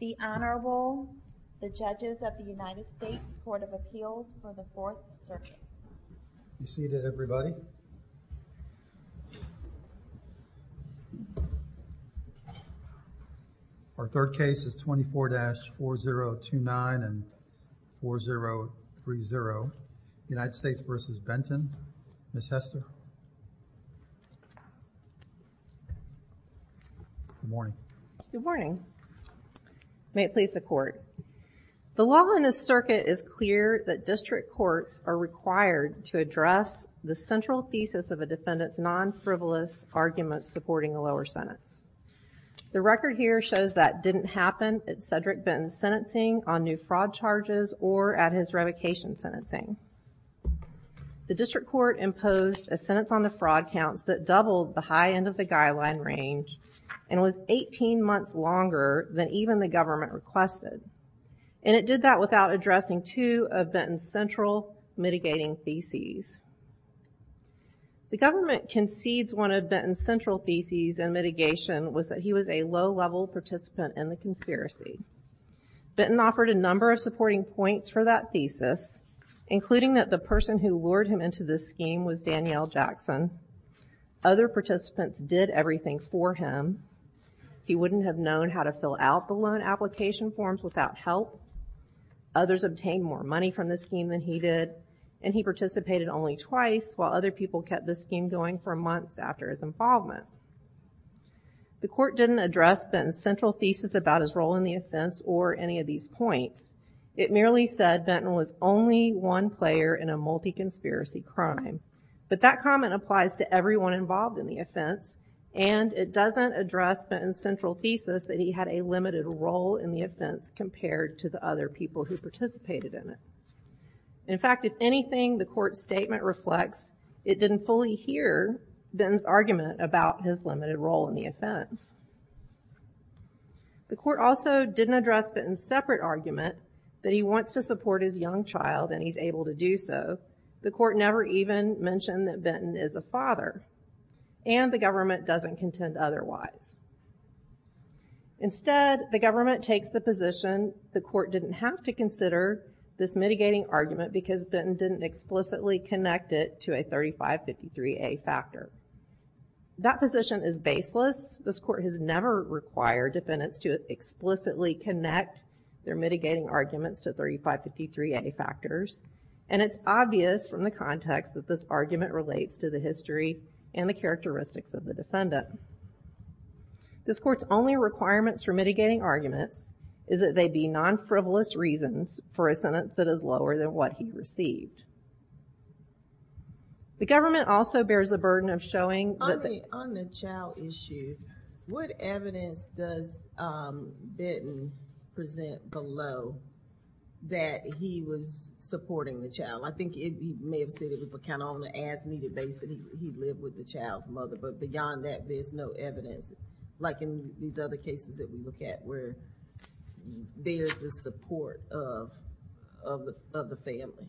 The Honorable, the Judges of the United States Court of Appeals for the Fourth Circuit. Be seated everybody. Our third case is 24-4029 and 4030 United States v. Benton. Ms. Hester. Good morning. Good morning. May it please the Court. The law in this circuit is clear that district courts are required to address the central thesis of a defendant's non-frivolous argument supporting a lower sentence. The record here shows that didn't happen at Cedric Benton's sentencing on new fraud charges or at his revocation sentencing. The district court imposed a sentence on the fraud counts that doubled the high end of the guideline range and was 18 months longer than even the government requested. And it did that without addressing two of Benton's central mitigating theses. The government concedes one of Benton's central theses in mitigation was that he was a low-level participant in the conspiracy. Benton offered a number of supporting points for that thesis, including that the person who lured him into this scheme was Danielle Jackson. Other participants did everything for him. He wouldn't have known how to fill out the loan application forms without help. Others obtained more money from the scheme than he did. And he participated only twice while other people kept the scheme going for months after his involvement. The court didn't address Benton's central thesis about his role in the offense or any of these points. It merely said Benton was only one player in a multi-conspiracy crime. But that comment applies to everyone involved in the offense. And it doesn't address Benton's central thesis that he had a limited role in the offense compared to the other people who participated in it. In fact, if anything the court's statement reflects, it didn't fully hear Benton's argument about his limited role in the offense. The court also didn't address Benton's separate argument that he wants to support his young child and he's able to do so. The court never even mentioned that Benton is a father. And the government doesn't contend otherwise. Instead, the government takes the position the court didn't have to consider this mitigating argument because Benton didn't explicitly connect it to a 3553A factor. That position is baseless. This court has never required defendants to explicitly connect their mitigating arguments to 3553A factors. And it's obvious from the context that this argument relates to the history and the characteristics of the defendant. This court's only requirements for mitigating arguments is that they be non-frivolous reasons for a sentence that is lower than what he received. The government also bears the burden of showing that... On the child issue, what evidence does Benton present below that he was supporting the child? I think you may have said it was kind of on an as-needed basis that he lived with the child's mother. But beyond that, there's no evidence. Like in these other cases that we look at where there's this support of the family.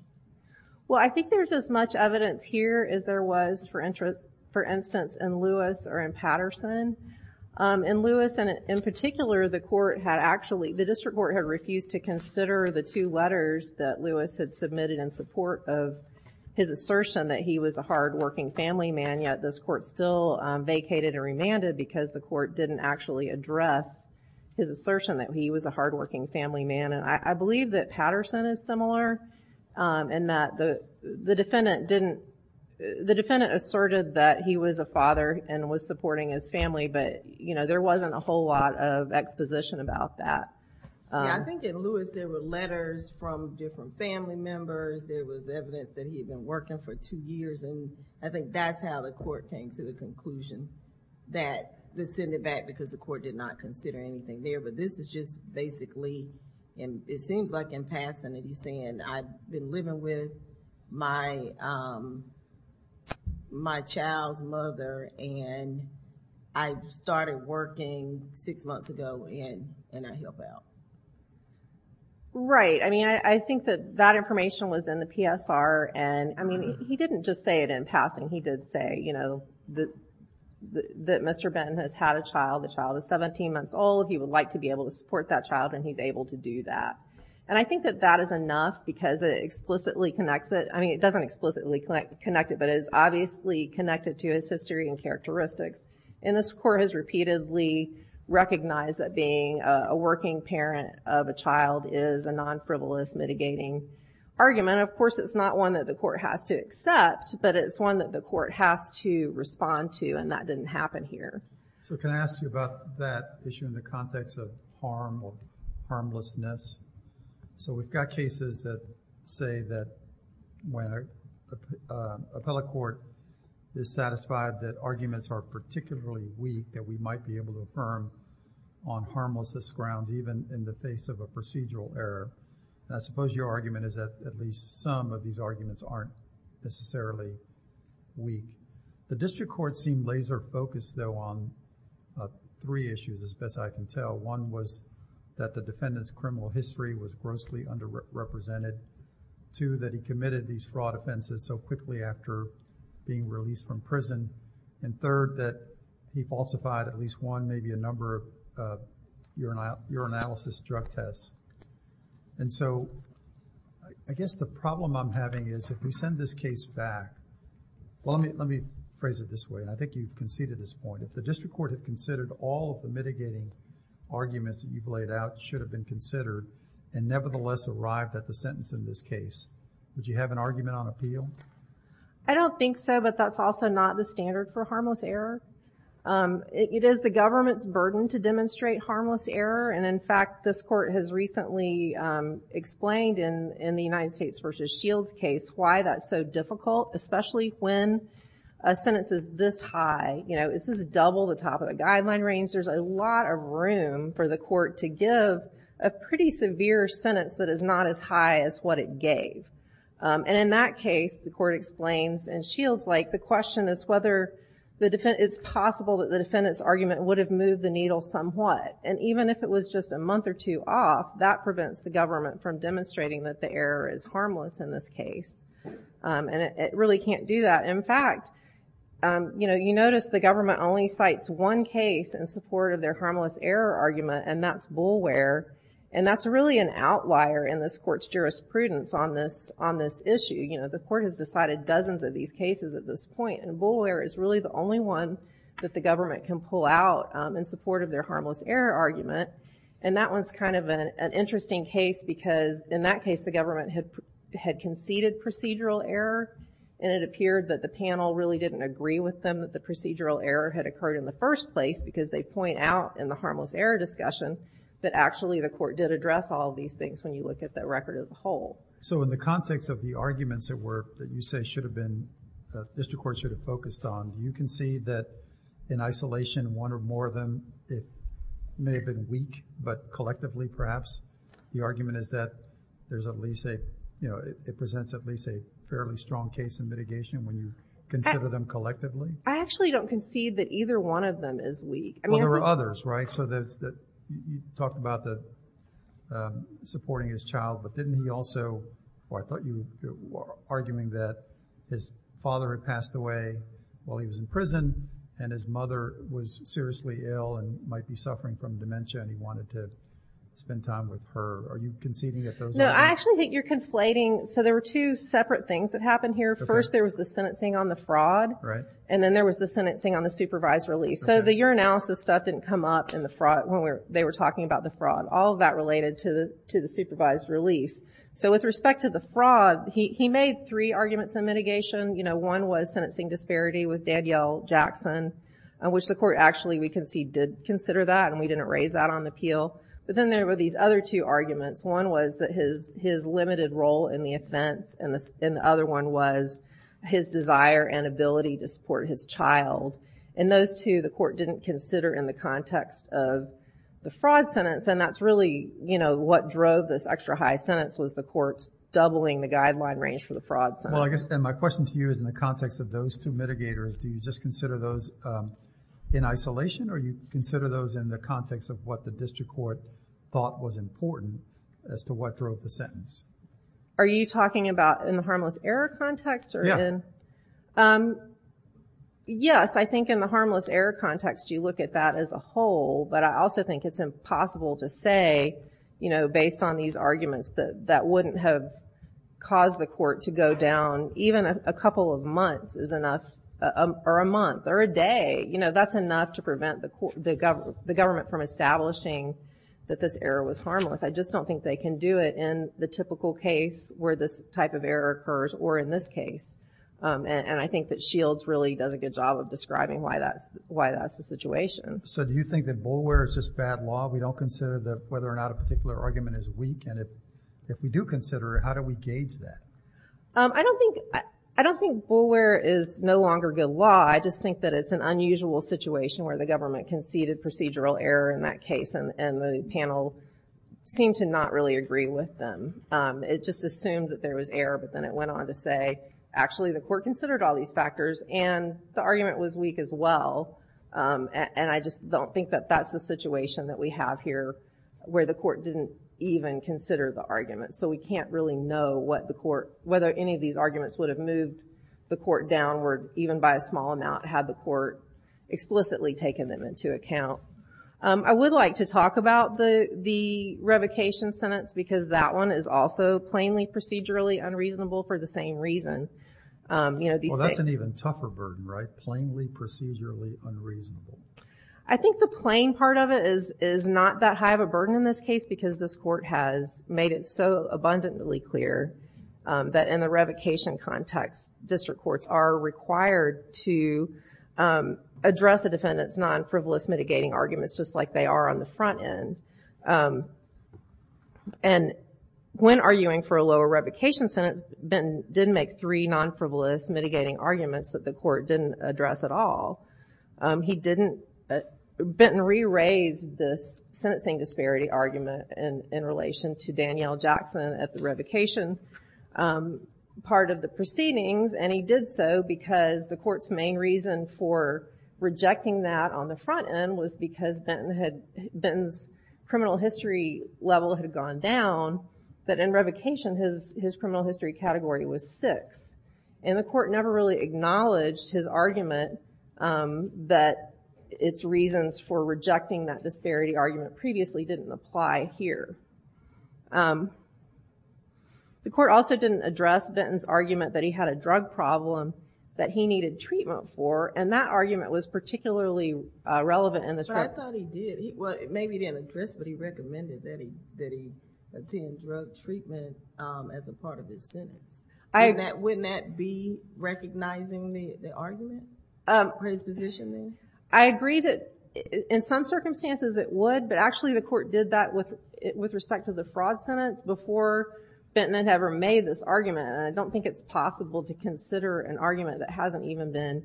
Well, I think there's as much evidence here as there was, for instance, in Lewis or in Patterson. In Lewis, in particular, the district court had refused to consider the two letters that Lewis had submitted in support of his assertion that he was a hard-working family man. Yet, this court still vacated and remanded because the court didn't actually address his assertion that he was a hard-working family man. I believe that Patterson is similar in that the defendant asserted that he was a father and was supporting his family. But there wasn't a whole lot of exposition about that. I think in Lewis, there were letters from different family members. There was evidence that he had been working for two years. I think that's how the court came to the conclusion that this sent it back because the court did not consider anything there. But this is just basically, and it seems like in Patterson that he's saying, I've been living with my child's mother, and I started working six months ago, and I help out. Right. I mean, I think that that information was in the PSR. And, I mean, he didn't just say it in Patterson. He did say, you know, that Mr. Benton has had a child. The child is 17 months old. He would like to be able to support that child, and he's able to do that. And I think that that is enough because it explicitly connects it. I mean, it doesn't explicitly connect it, but it is obviously connected to his history and characteristics. And this court has repeatedly recognized that being a working parent of a child is a non-frivolous mitigating argument. Of course, it's not one that the court has to accept, but it's one that the court has to respond to, and that didn't happen here. So, can I ask you about that issue in the context of harm or harmlessness? So, we've got cases that say that when an appellate court is satisfied that arguments are particularly weak, that we might be able to affirm on harmlessness grounds, even in the face of a procedural error. And I suppose your argument is that at least some of these arguments aren't necessarily weak. The district court seemed laser-focused, though, on three issues, as best I can tell. One was that the defendant's criminal history was grossly underrepresented. Two, that he committed these fraud offenses so quickly after being released from prison. And third, that he falsified at least one, maybe a number of urinalysis drug tests. And so, I guess the problem I'm having is if we send this case back, well, let me phrase it this way, and I think you can see to this point, if the district court had considered all of the mitigating arguments that you've laid out should have been considered and nevertheless arrived at the sentence in this case, would you have an argument on appeal? I don't think so, but that's also not the standard for harmless error. It is the government's burden to demonstrate harmless error, and in fact, this court has recently explained in the United States v. Shields case why that's so difficult, especially when a sentence is this high. You know, it's just double the top of the guideline range. There's a lot of room for the court to give a pretty severe sentence that is not as high as what it gave. And in that case, the court explains, and Shields liked, the question is whether it's possible that the defendant's argument would have moved the needle somewhat. And even if it was just a month or two off, that prevents the government from demonstrating that the error is harmless in this case. And it really can't do that. In fact, you know, you notice the government only cites one case in support of their harmless error argument, and that's Boulware, and that's really an outlier in this court's jurisprudence on this issue. You know, the court has decided dozens of these cases at this point, and Boulware is really the only one that the government can pull out in support of their harmless error argument. And that one's kind of an interesting case because in that case, the government had conceded procedural error, and it appeared that the panel really didn't agree with them that the procedural error had occurred in the first place because they point out in the harmless error discussion that actually the court did address all these things when you look at the record of the whole. So in the context of the arguments that you say should have been, the district court should have focused on, you concede that in isolation, one or more of them, it may have been weak, but collectively perhaps, the argument is that there's at least a, you know, it presents at least a fairly strong case in mitigation when you consider them collectively? I actually don't concede that either one of them is weak. Well, there are others, right? So you talked about the supporting his child, but didn't he also, well, I thought you were arguing that his father had passed away while he was in prison, and his mother was seriously ill and might be suffering from dementia, and he wanted to spend time with her. Are you conceding that those are? No, I actually think you're conflating. So there were two separate things that happened here. First, there was the sentencing on the fraud. Right. And then there was the sentencing on the supervised release. So the urinalysis stuff didn't come up in the fraud when they were talking about the fraud. All of that related to the supervised release. So with respect to the fraud, he made three arguments in mitigation. You know, one was sentencing disparity with Danielle Jackson, which the court actually, we concede, did consider that, and we didn't raise that on the appeal. But then there were these other two arguments. One was that his limited role in the offense, and the other one was his desire and ability to support his child. And those two the court didn't consider in the context of the fraud sentence, and that's really what drove this extra high sentence was the court's doubling the guideline range for the fraud sentence. Well, I guess my question to you is in the context of those two mitigators, do you just consider those in isolation, or do you consider those in the context of what the district court thought was important as to what drove the sentence? Are you talking about in the harmless error context? Yeah. Yes, I think in the harmless error context you look at that as a whole, but I also think it's impossible to say, you know, based on these arguments that wouldn't have caused the court to go down. Even a couple of months is enough, or a month, or a day. You know, that's enough to prevent the government from establishing that this error was harmless. I just don't think they can do it in the typical case where this type of error occurs, or in this case. And I think that Shields really does a good job of describing why that's the situation. So do you think that bulware is just bad law? We don't consider whether or not a particular argument is weak, and if we do consider it, how do we gauge that? I don't think bulware is no longer good law. I just think that it's an unusual situation where the government conceded procedural error in that case, and the panel seemed to not really agree with them. It just assumed that there was error, but then it went on to say, actually the court considered all these factors, and the argument was weak as well. And I just don't think that that's the situation that we have here where the court didn't even consider the argument. So we can't really know whether any of these arguments would have moved the court downward, even by a small amount, had the court explicitly taken them into account. I would like to talk about the revocation sentence, because that one is also plainly procedurally unreasonable for the same reason. Well, that's an even tougher burden, right? I think the plain part of it is not that high of a burden in this case, because this court has made it so abundantly clear that in the revocation context, district courts are required to address a defendant's non-frivolous mitigating arguments just like they are on the front end. And when arguing for a lower revocation sentence, Benton did make three non-frivolous mitigating arguments that the court didn't address at all. Benton re-raised this sentencing disparity argument in relation to Danielle Jackson at the revocation part of the proceedings, and he did so because the court's main reason for rejecting that on the front end was because Benton's criminal history level had gone down, but in revocation, his criminal history category was six. And the court never really acknowledged his argument that its reasons for rejecting that disparity argument previously didn't apply here. The court also didn't address Benton's argument that he had a drug problem that he needed treatment for, and that argument was particularly relevant in this case. I thought he did. Well, maybe he didn't address it, but he recommended that he attend drug treatment as a part of his sentence. Wouldn't that be recognizing the argument? Prespositioning? I agree that in some circumstances it would, but actually the court did that with respect to the fraud sentence before Benton had ever made this argument, and I don't think it's possible to consider an argument that hasn't even been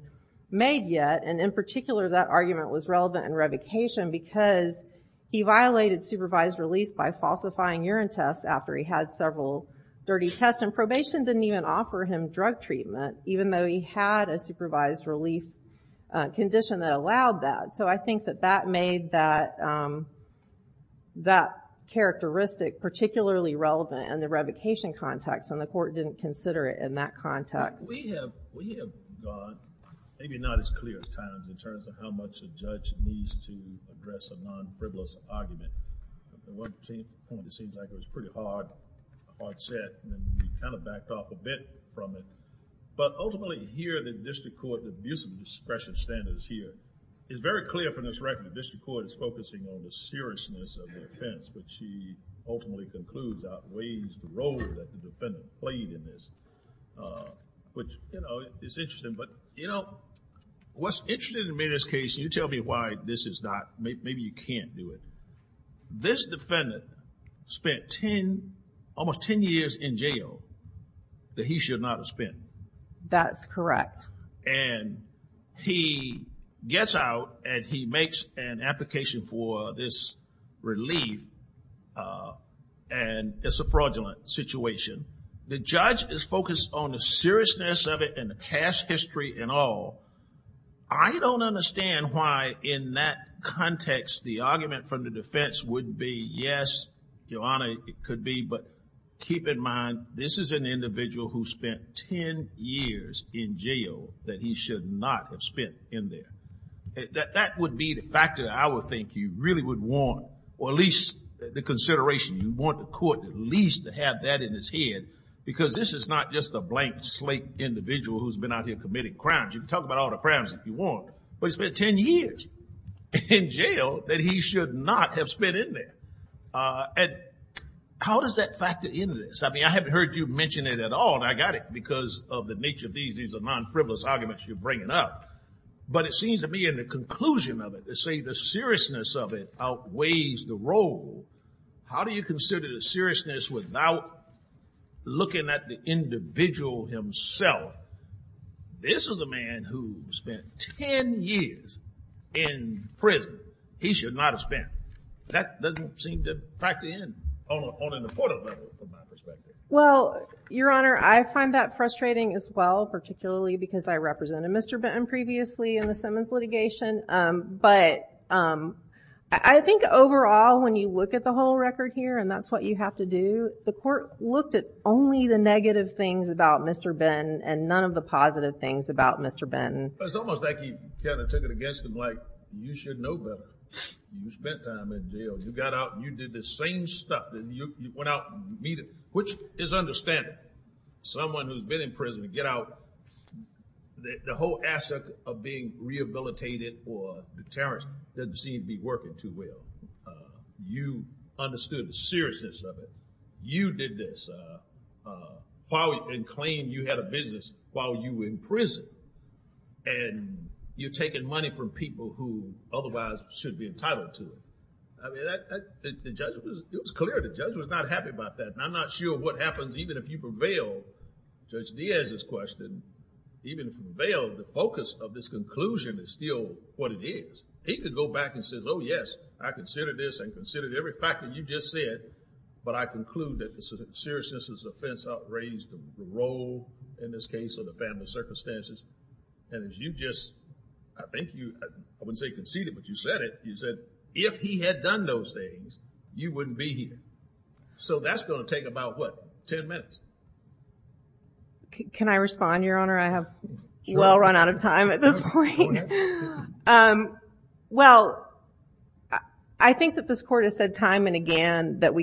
made yet. And in particular, that argument was relevant in revocation because he violated supervised release by falsifying urine tests after he had several dirty tests, and probation didn't even offer him drug treatment, even though he had a supervised release condition that allowed that. So I think that that made that characteristic particularly relevant in the revocation context, and the court didn't consider it in that context. We have gone maybe not as clear as times in terms of how much a judge needs to address a non-frivolous argument. At one point it seems like it was pretty hard, hard set, and then we kind of backed off a bit from it. But ultimately here the district court, the abuse of discretion standards here, is very clear from this record. The district court is focusing on the seriousness of the offense, but she ultimately concludes outweighs the role that the defendant played in this, which, you know, is interesting. But, you know, what's interesting to me in this case, and you tell me why this is not, maybe you can't do it. This defendant spent 10, almost 10 years in jail that he should not have spent. That's correct. And he gets out and he makes an application for this relief, and it's a fraudulent situation. The judge is focused on the seriousness of it and the past history and all. I don't understand why in that context the argument from the defense would be, yes, Your Honor, it could be, but keep in mind, this is an individual who spent 10 years in jail that he should not have spent in there. That would be the factor I would think you really would want, or at least the consideration you want the court at least to have that in its head, because this is not just a blank slate individual who's been out here committing crimes. You can talk about all the crimes if you want, but he spent 10 years in jail that he should not have spent in there. How does that factor into this? I mean, I haven't heard you mention it at all, and I got it because of the nature of these. These are non-frivolous arguments you're bringing up. But it seems to me in the conclusion of it, to say the seriousness of it outweighs the role, how do you consider the seriousness without looking at the individual himself? This is a man who spent 10 years in prison he should not have spent. That doesn't seem to factor in on an apportable level from my perspective. Well, Your Honor, I find that frustrating as well, particularly because I represented Mr. Benton previously in the Simmons litigation, but I think overall when you look at the whole record here, and that's what you have to do, the court looked at only the negative things about Mr. Benton and none of the positive things about Mr. Benton. It's almost like he kind of took it against him, like, you should know better. You spent time in jail. You got out and you did the same stuff. You went out and meet him, which is understandable. Someone who's been in prison, get out. The whole aspect of being rehabilitated or deterrent doesn't seem to be working too well. You understood the seriousness of it. You did this and claimed you had a business while you were in prison, and you're taking money from people who otherwise should be entitled to it. I mean, it was clear the judge was not happy about that, and I'm not sure what happens even if you prevail. Judge Diaz's question, even if you prevail, the focus of this conclusion is still what it is. He could go back and say, oh, yes, I considered this and considered every fact that you just said, but I conclude that the seriousness of this offense outranged the role, in this case, of the family circumstances. And as you just, I think you, I wouldn't say conceded, but you said it, you said if he had done those things, you wouldn't be here. So that's going to take about, what, 10 minutes? Can I respond, Your Honor? I have well run out of time at this point. Well, I think that this court has said time and again that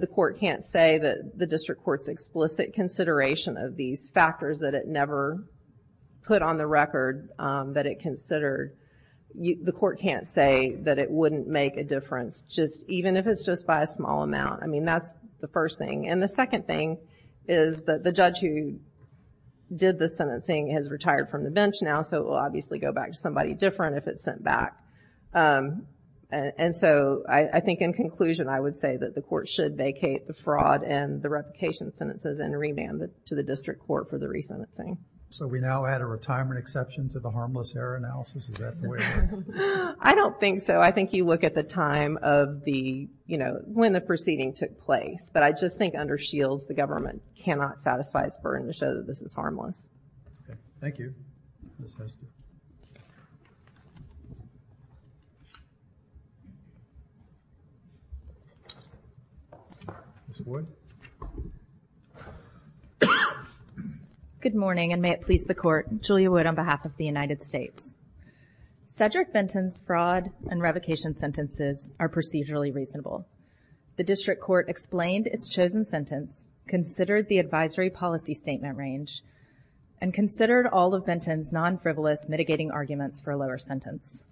the court can't say that the district court's explicit consideration of these factors that it never put on the record that it considered, the court can't say that it wouldn't make a difference, even if it's just by a small amount. I mean, that's the first thing. And the second thing is that the judge who did the sentencing has retired from the bench now, so it will obviously go back to somebody different if it's sent back. And so I think in conclusion, I would say that the court should vacate the fraud and the replication sentences and remand it to the district court for the resentencing. So we now add a retirement exception to the harmless error analysis? Is that the way it works? I don't think so. I think you look at the time of the, you know, when the proceeding took place. But I just think under Shields, the government cannot satisfy its burden to show that this is harmless. Okay, thank you. Ms. Wood? Good morning, and may it please the court. Julia Wood on behalf of the United States. Cedric Benton's fraud and revocation sentences are procedurally reasonable. The district court explained its chosen sentence, considered the advisory policy statement range, and considered all of Benton's non-frivolous mitigating arguments for a lower sentence.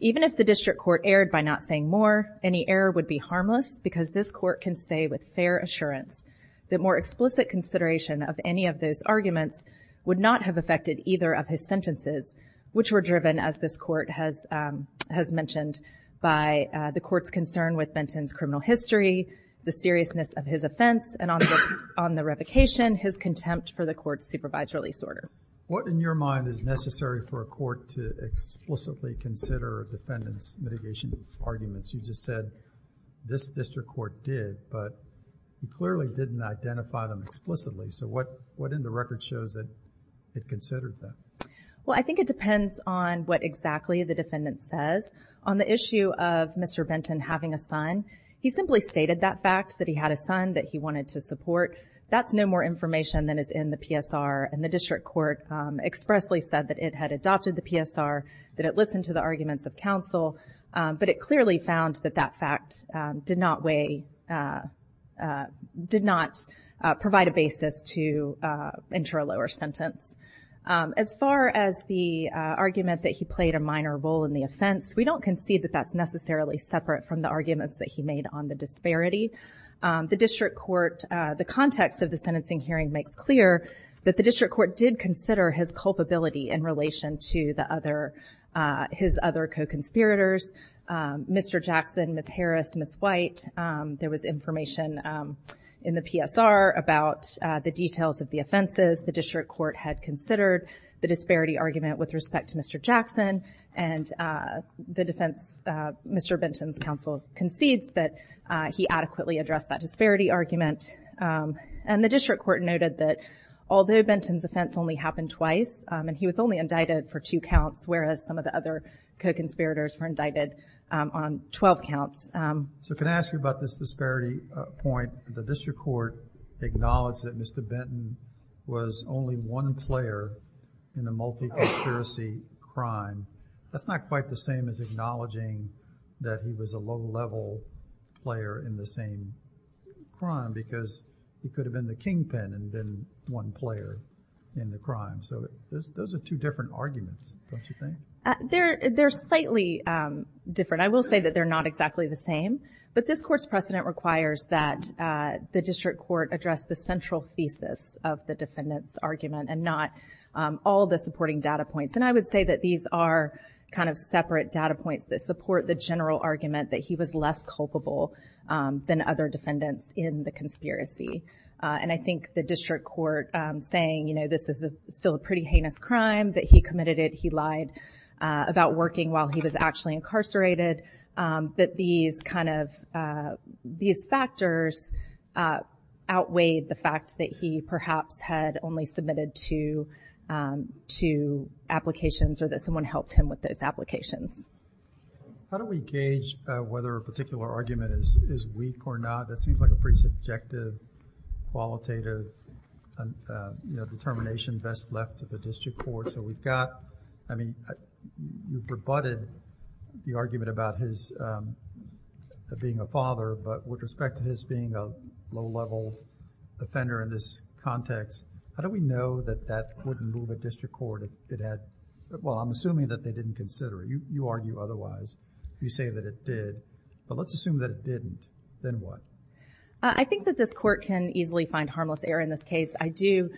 Even if the district court erred by not saying more, any error would be harmless because this court can say with fair assurance that more explicit consideration of any of those arguments would not have affected either of his sentences, which were driven, as this court has mentioned, by the court's concern with Benton's criminal history, the seriousness of his offense, and on the revocation, his contempt for the court's supervised release order. What, in your mind, is necessary for a court to explicitly consider a defendant's mitigation arguments? You just said this district court did, but you clearly didn't identify them explicitly. So what in the record shows that it considered them? Well, I think it depends on what exactly the defendant says. On the issue of Mr. Benton having a son, he simply stated that fact, that he had a son, that he wanted to support. That's no more information than is in the PSR, and the district court expressly said that it had adopted the PSR, that it listened to the arguments of counsel, but it clearly found that that fact did not weigh... did not provide a basis to enter a lower sentence. As far as the argument that he played a minor role in the offense, we don't concede that that's necessarily separate from the arguments that he made on the disparity. The district court, the context of the sentencing hearing makes clear that the district court did consider his culpability in relation to his other co-conspirators, Mr. Jackson, Ms. Harris, Ms. White. There was information in the PSR about the details of the offenses the district court had considered, the disparity argument with respect to Mr. Jackson, and the defense... Mr. Benton's counsel concedes that he adequately addressed that disparity argument. And the district court noted that although Benton's offense only happened twice, and he was only indicted for two counts, whereas some of the other co-conspirators were indicted on 12 counts. So can I ask you about this disparity point? The district court acknowledged that Mr. Benton was only one player in the multi-conspiracy crime. That's not quite the same as acknowledging that he was a low-level player in the same crime, because he could have been the kingpin and been one player in the crime. So those are two different arguments, don't you think? They're slightly different. I will say that they're not exactly the same. But this court's precedent requires that the district court address the central thesis of the defendant's argument and not all the supporting data points. And I would say that these are kind of separate data points that support the general argument that he was less culpable than other defendants in the conspiracy. And I think the district court saying, you know, this is still a pretty heinous crime, that he committed it, he lied about working while he was actually incarcerated, that these kind of... these factors outweighed the fact that he perhaps had only submitted two... two applications or that someone helped him with those applications. How do we gauge whether a particular argument is weak or not? That seems like a pretty subjective, qualitative, you know, determination best left to the district court. So we've got... I mean, you've rebutted the argument about his being a father, but with respect to his being a low-level offender in this context, how do we know that that wouldn't move a district court to say that it had... Well, I'm assuming that they didn't consider it. You argue otherwise. You say that it did. But let's assume that it didn't. Then what? I think that this court can easily find harmless error in this case. I do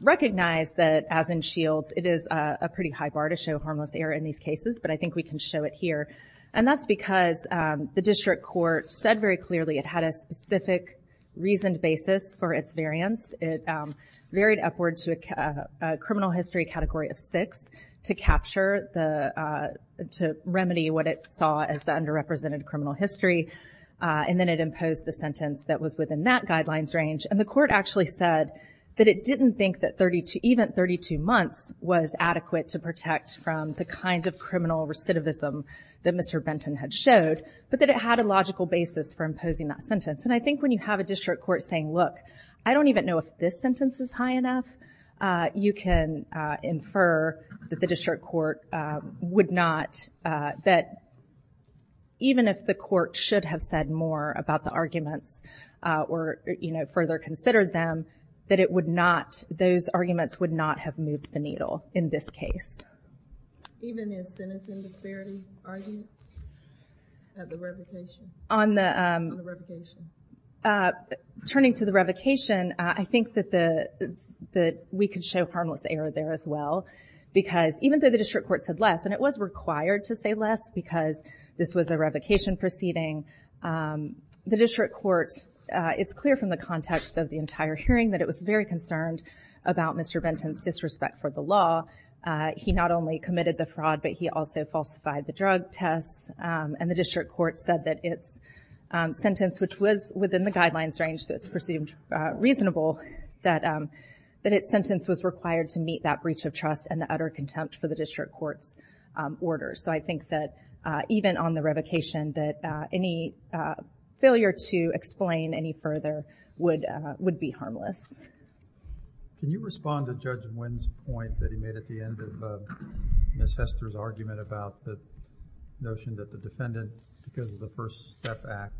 recognize that, as in Shields, it is a pretty high bar to show harmless error in these cases, but I think we can show it here. And that's because the district court said very clearly it had a specific reasoned basis for its variance. It varied upward to a criminal history category of six to capture the... to remedy what it saw as the underrepresented criminal history, and then it imposed the sentence that was within that guidelines range. And the court actually said that it didn't think that even 32 months was adequate to protect from the kind of criminal recidivism that Mr. Benton had showed, but that it had a logical basis for imposing that sentence. And I think when you have a district court saying, look, I don't even know if this sentence is high enough, you can infer that the district court would not... that even if the court should have said more about the arguments or, you know, further considered them, that it would not... those arguments would not have moved the needle in this case. Even in sentencing disparity arguments? At the revocation? On the... On the revocation. Turning to the revocation, I think that the... we could show harmless error there as well, because even though the district court said less, and it was required to say less because this was a revocation proceeding, the district court... it's clear from the context of the entire hearing that it was very concerned about Mr. Benton's disrespect for the law. He not only committed the fraud, but he also falsified the drug tests, and the district court said that its sentence, which was within the guidelines range, so it's presumed reasonable, that its sentence was required to meet that breach of trust and the utter contempt for the district court's order. So I think that even on the revocation, that any failure to explain any further would be harmless. Can you respond to Judge Nguyen's point that he made at the end of Ms. Hester's argument about the notion that the defendant, because of the First Step Act,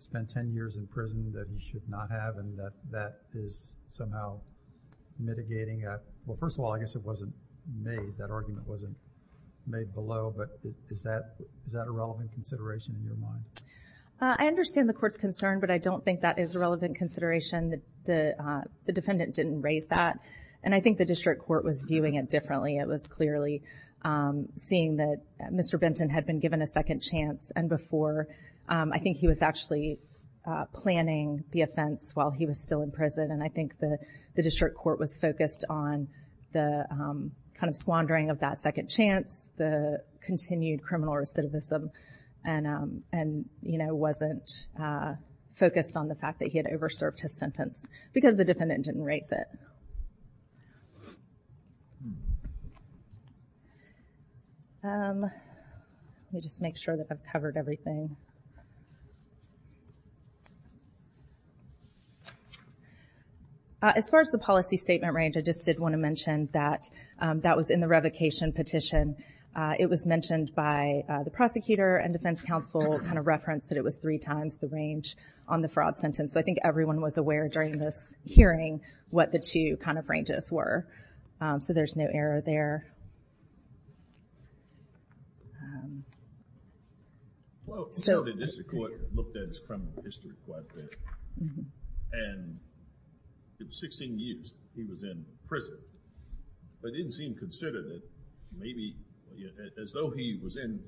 spent 10 years in prison that he should not have, and that that is somehow mitigating that? Well, first of all, I guess it wasn't made. That argument wasn't made below, but is that a relevant consideration in your mind? I understand the court's concern, but I don't think that is a relevant consideration. The defendant didn't raise that, and I think the district court was viewing it differently. It was clearly seeing that Mr. Benton had been given a second chance, and before, I think he was actually planning the offense while he was still in prison, and I think the district court was focused on the kind of squandering of that second chance, the continued criminal recidivism, and wasn't focused on the fact that he had over-served his sentence, because the defendant didn't raise it. Let me just make sure that I've covered everything. As far as the policy statement range, I just did want to mention that that was in the revocation petition. It was mentioned by the prosecutor and defense counsel kind of referenced that it was three times the range on the fraud sentence, so I think everyone was aware during this hearing what the two kind of ranges were, so there's no error there. Well, the district court looked at his criminal history quite a bit, and it was 16 years he was in prison, but it didn't seem considered that maybe, as though he was in,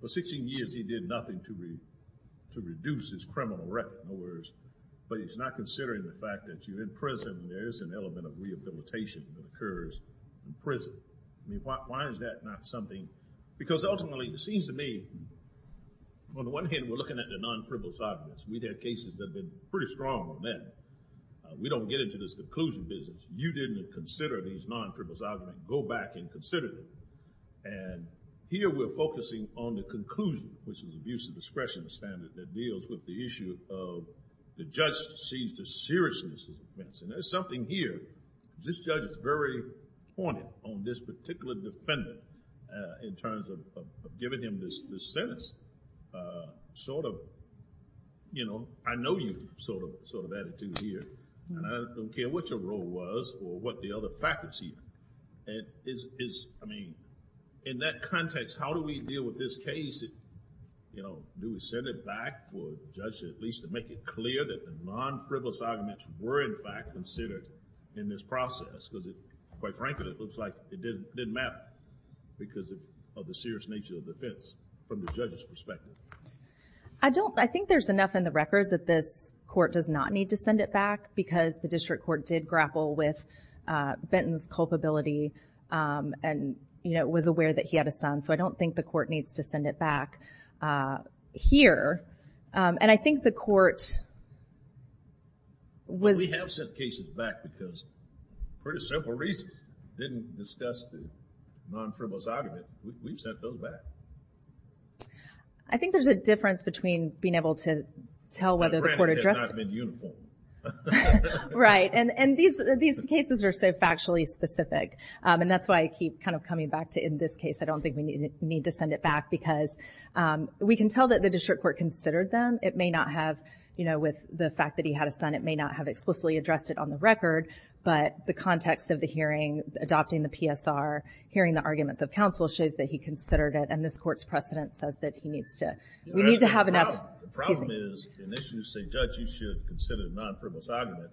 for 16 years, he did nothing to reduce his criminal record, but he's not considering the fact that you're in prison, there is an element of rehabilitation that occurs in prison. I mean, why is that not something, because ultimately, it seems to me, on the one hand, we're looking at the non-criminal side of this. We've had cases that have been pretty strong on that. We don't get into this conclusion business. You didn't consider these non-criminal side of it. Go back and consider them, and here we're focusing on the conclusion, which is abuse of discretion standard that deals with the issue of the judge sees the seriousness of the offense, and there's something here. This judge is very pointed on this particular defendant in terms of giving him this sentence, sort of, you know, I know you, sort of attitude here, and I don't care what your role was or what the other faculty, it is, I mean, in that context, how do we deal with this case? Do we send it back for the judge at least to make it clear that the non-criminal side of it were in fact considered in this process, because quite frankly, it looks like it didn't matter. Do we send it back because of the serious nature of the offense from the judge's perspective? I don't, I think there's enough in the record that this court does not need to send it back because the district court did grapple with Benton's culpability and, you know, was aware that he had a son, so I don't think the court needs to send it back here, and I think the court was... Well, we have sent cases back because pretty simple reasons. We didn't discuss the non-criminal side of it. We've sent those back. I think there's a difference between being able to tell whether the court addressed... But granted, it has not been uniformed. Right, and these cases are so factually specific, and that's why I keep kind of coming back to in this case, I don't think we need to send it back because we can tell that the district court considered them. It may not have, you know, with the fact that he had a son, it may not have explicitly addressed it on the record, but the context of the hearing, adopting the PSR, hearing the arguments of counsel shows that he considered it, and this court's precedent says that he needs to... We need to have enough... Excuse me. The problem is, in this you say, Dutch, you should consider the non-criminal side of it,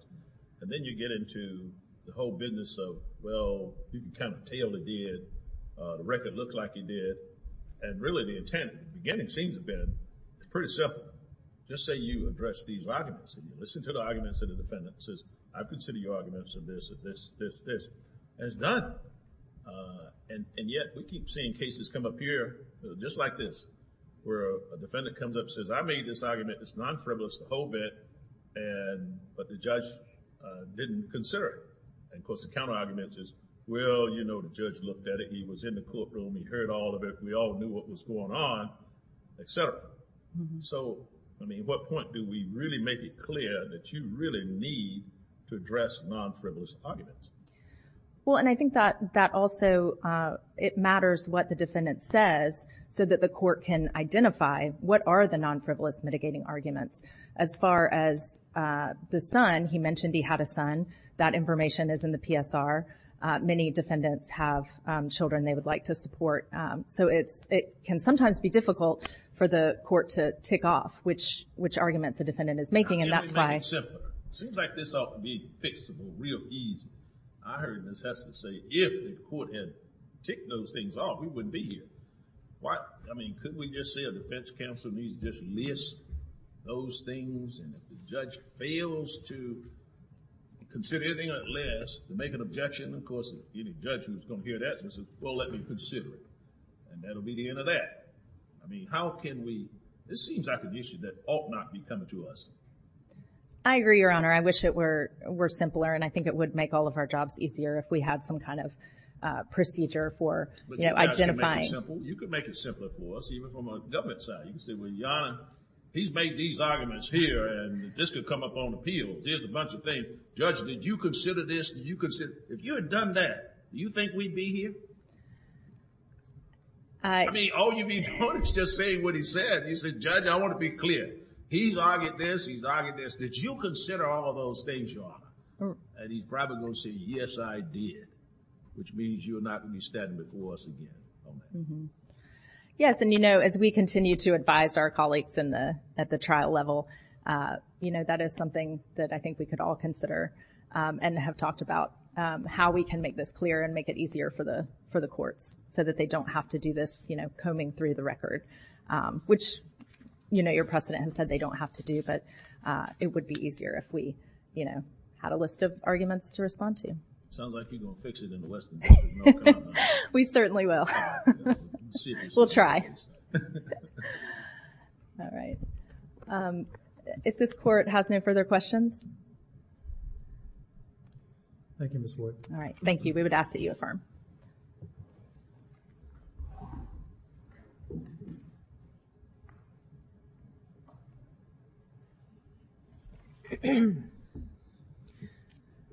and then you get into the whole business of, well, you can kind of tell he did, the record looked like he did, and really the intent at the beginning seems to have been pretty simple, just say you addressed these arguments, and you listen to the arguments of the defendant, and says, I've considered your arguments, and this, and this, this, this, and it's done. And yet, we keep seeing cases come up here, just like this, where a defendant comes up and says, I made this argument, it's non-criminalist, the whole bit, but the judge didn't consider it. And, of course, the counter-argument is, well, you know, the judge looked at it, he was in the courtroom, he heard all of it, we all knew what was going on, et cetera. So, I mean, what point do we really make it clear that you really need to address non-frivolous arguments? Well, and I think that also, it matters what the defendant says, so that the court can identify what are the non-frivolous mitigating arguments. As far as the son, he mentioned he had a son, that information is in the PSR, many defendants have children they would like to support, so it can sometimes be difficult for the court to tick off which arguments a defendant is making, and that's why. It seems like this ought to be fixable real easy. I heard Ms. Heston say, if the court had ticked those things off, we wouldn't be here. What? I mean, couldn't we just say a defense counsel needs to just list those things, and if the judge fails to consider anything unless, to make an objection, of course, any judge who's going to hear that, says, well, let me consider it, and that'll be the end of that. I mean, how can we, this seems like an issue that ought not be coming to us. I agree, Your Honor. I wish it were simpler, and I think it would make all of our jobs easier if we had some kind of procedure for identifying. You could make it simpler for us, even from a government side. You could say, well, Your Honor, he's made these arguments here, and this could come up on appeal. There's a bunch of things. Judge, did you consider this? If you had done that, do you think we'd be here? I mean, all you'd be doing is just saying what he said. You'd say, Judge, I want to be clear. He's argued this, he's argued this. Did you consider all of those things, Your Honor? And he's probably going to say, yes, I did, which means you're not going to be standing before us again. Yes, and you know, as we continue to advise our colleagues at the trial level, that is something that I think we could all consider and have talked about, how we can make this clear and make it easier for the courts so that they don't have to do this combing through the record, which, you know, your precedent has said they don't have to do, but it would be easier if we, you know, had a list of arguments to respond to. Sounds like you're going to fix it in the Western District. We certainly will. We'll try. All right. If this court has no further questions. Thank you, Ms. Wood. All right, thank you. We would ask that you affirm.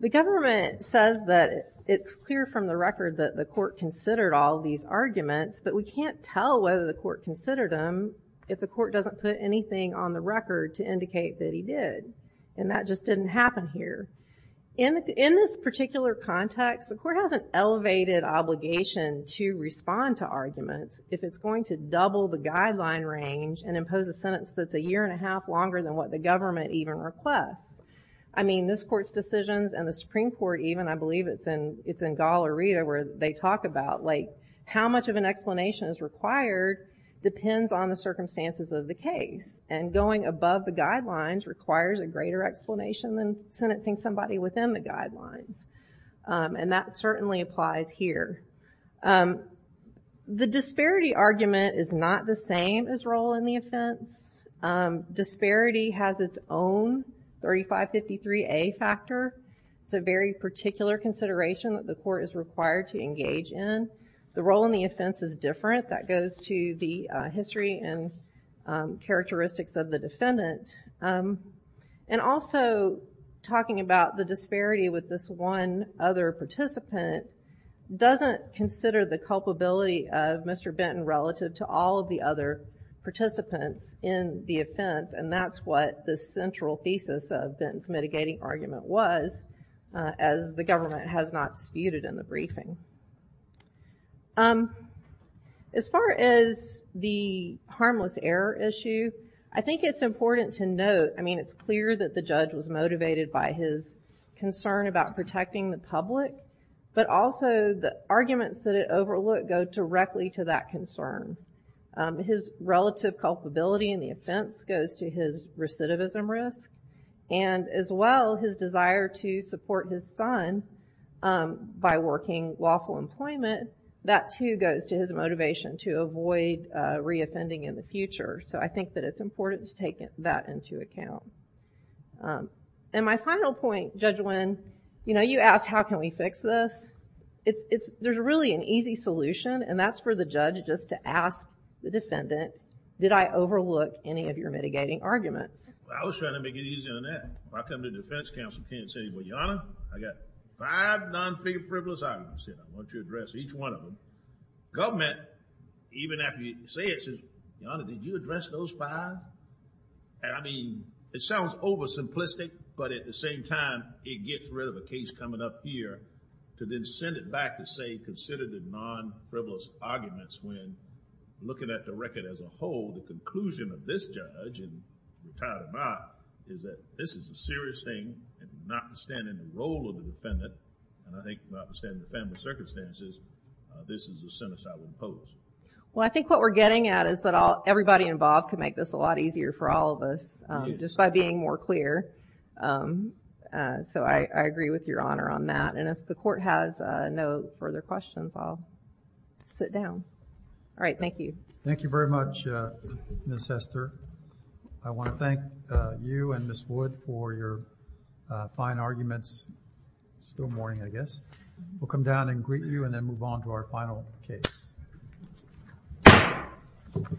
The government says that it's clear from the record that the court considered all these arguments, but we can't tell whether the court considered them if the court doesn't put anything on the record to indicate that he did, and that just didn't happen here. In this particular context, the court has an elevated obligation to respond to arguments if it's going to double the guideline range and impose a sentence that's a year and a half longer than what the government even requests. I mean, this court's decisions, and the Supreme Court even, I believe it's in Gallerita where they talk about, like, how much of an explanation is required depends on the circumstances of the case, and going above the guidelines requires a greater explanation than sentencing somebody within the guidelines, and that certainly applies here. The disparity argument is not the same as role in the offense. Disparity has its own 3553A factor. It's a very particular consideration that the court is required to engage in. The role in the offense is different. That goes to the history and characteristics of the defendant. And also, talking about the disparity with this one other participant doesn't consider the culpability of Mr. Benton relative to all of the other participants in the offense, and that's what the central thesis of Benton's mitigating argument was, as the government has not disputed in the briefing. As far as the harmless error issue, I think it's important to note, I mean, it's clear that the judge was motivated by his concern about protecting the public, but also the arguments that it overlooked go directly to that concern. His relative culpability in the offense goes to his recidivism risk, and as well, his desire to support his son by working lawful employment, that too goes to his motivation to avoid reoffending in the future, so I think that it's important to take that into account. And my final point, Judge Wynn, you know, you asked, how can we fix this? There's really an easy solution, and that's for the judge just to ask the defendant, did I overlook any of your mitigating arguments? Well, I was trying to make it easy on that. If I come to the defense counsel, I can't say, well, Your Honor, I got five non-figure frivolous arguments here, I want you to address each one of them. Government, even after you say it, says, Your Honor, did you address those five? And I mean, it sounds oversimplistic, but at the same time, it gets rid of a case coming up here to then send it back to say, consider the non-frivolous arguments, when looking at the record as a whole, the conclusion of this judge, and you're tired or not, is that this is a serious thing, and notwithstanding the role of the defendant, and I think notwithstanding the family circumstances, this is a sentence I would impose. Well, I think what we're getting at is that everybody involved can make this a lot easier for all of us, just by being more clear, so I agree with Your Honor on that, and if the court has no further questions, I'll sit down. All right, thank you. Thank you very much, Ms. Hester. I want to thank you and Ms. Wood for your fine arguments. It's still morning, I guess. We'll come down and greet you, and then move on to our final case.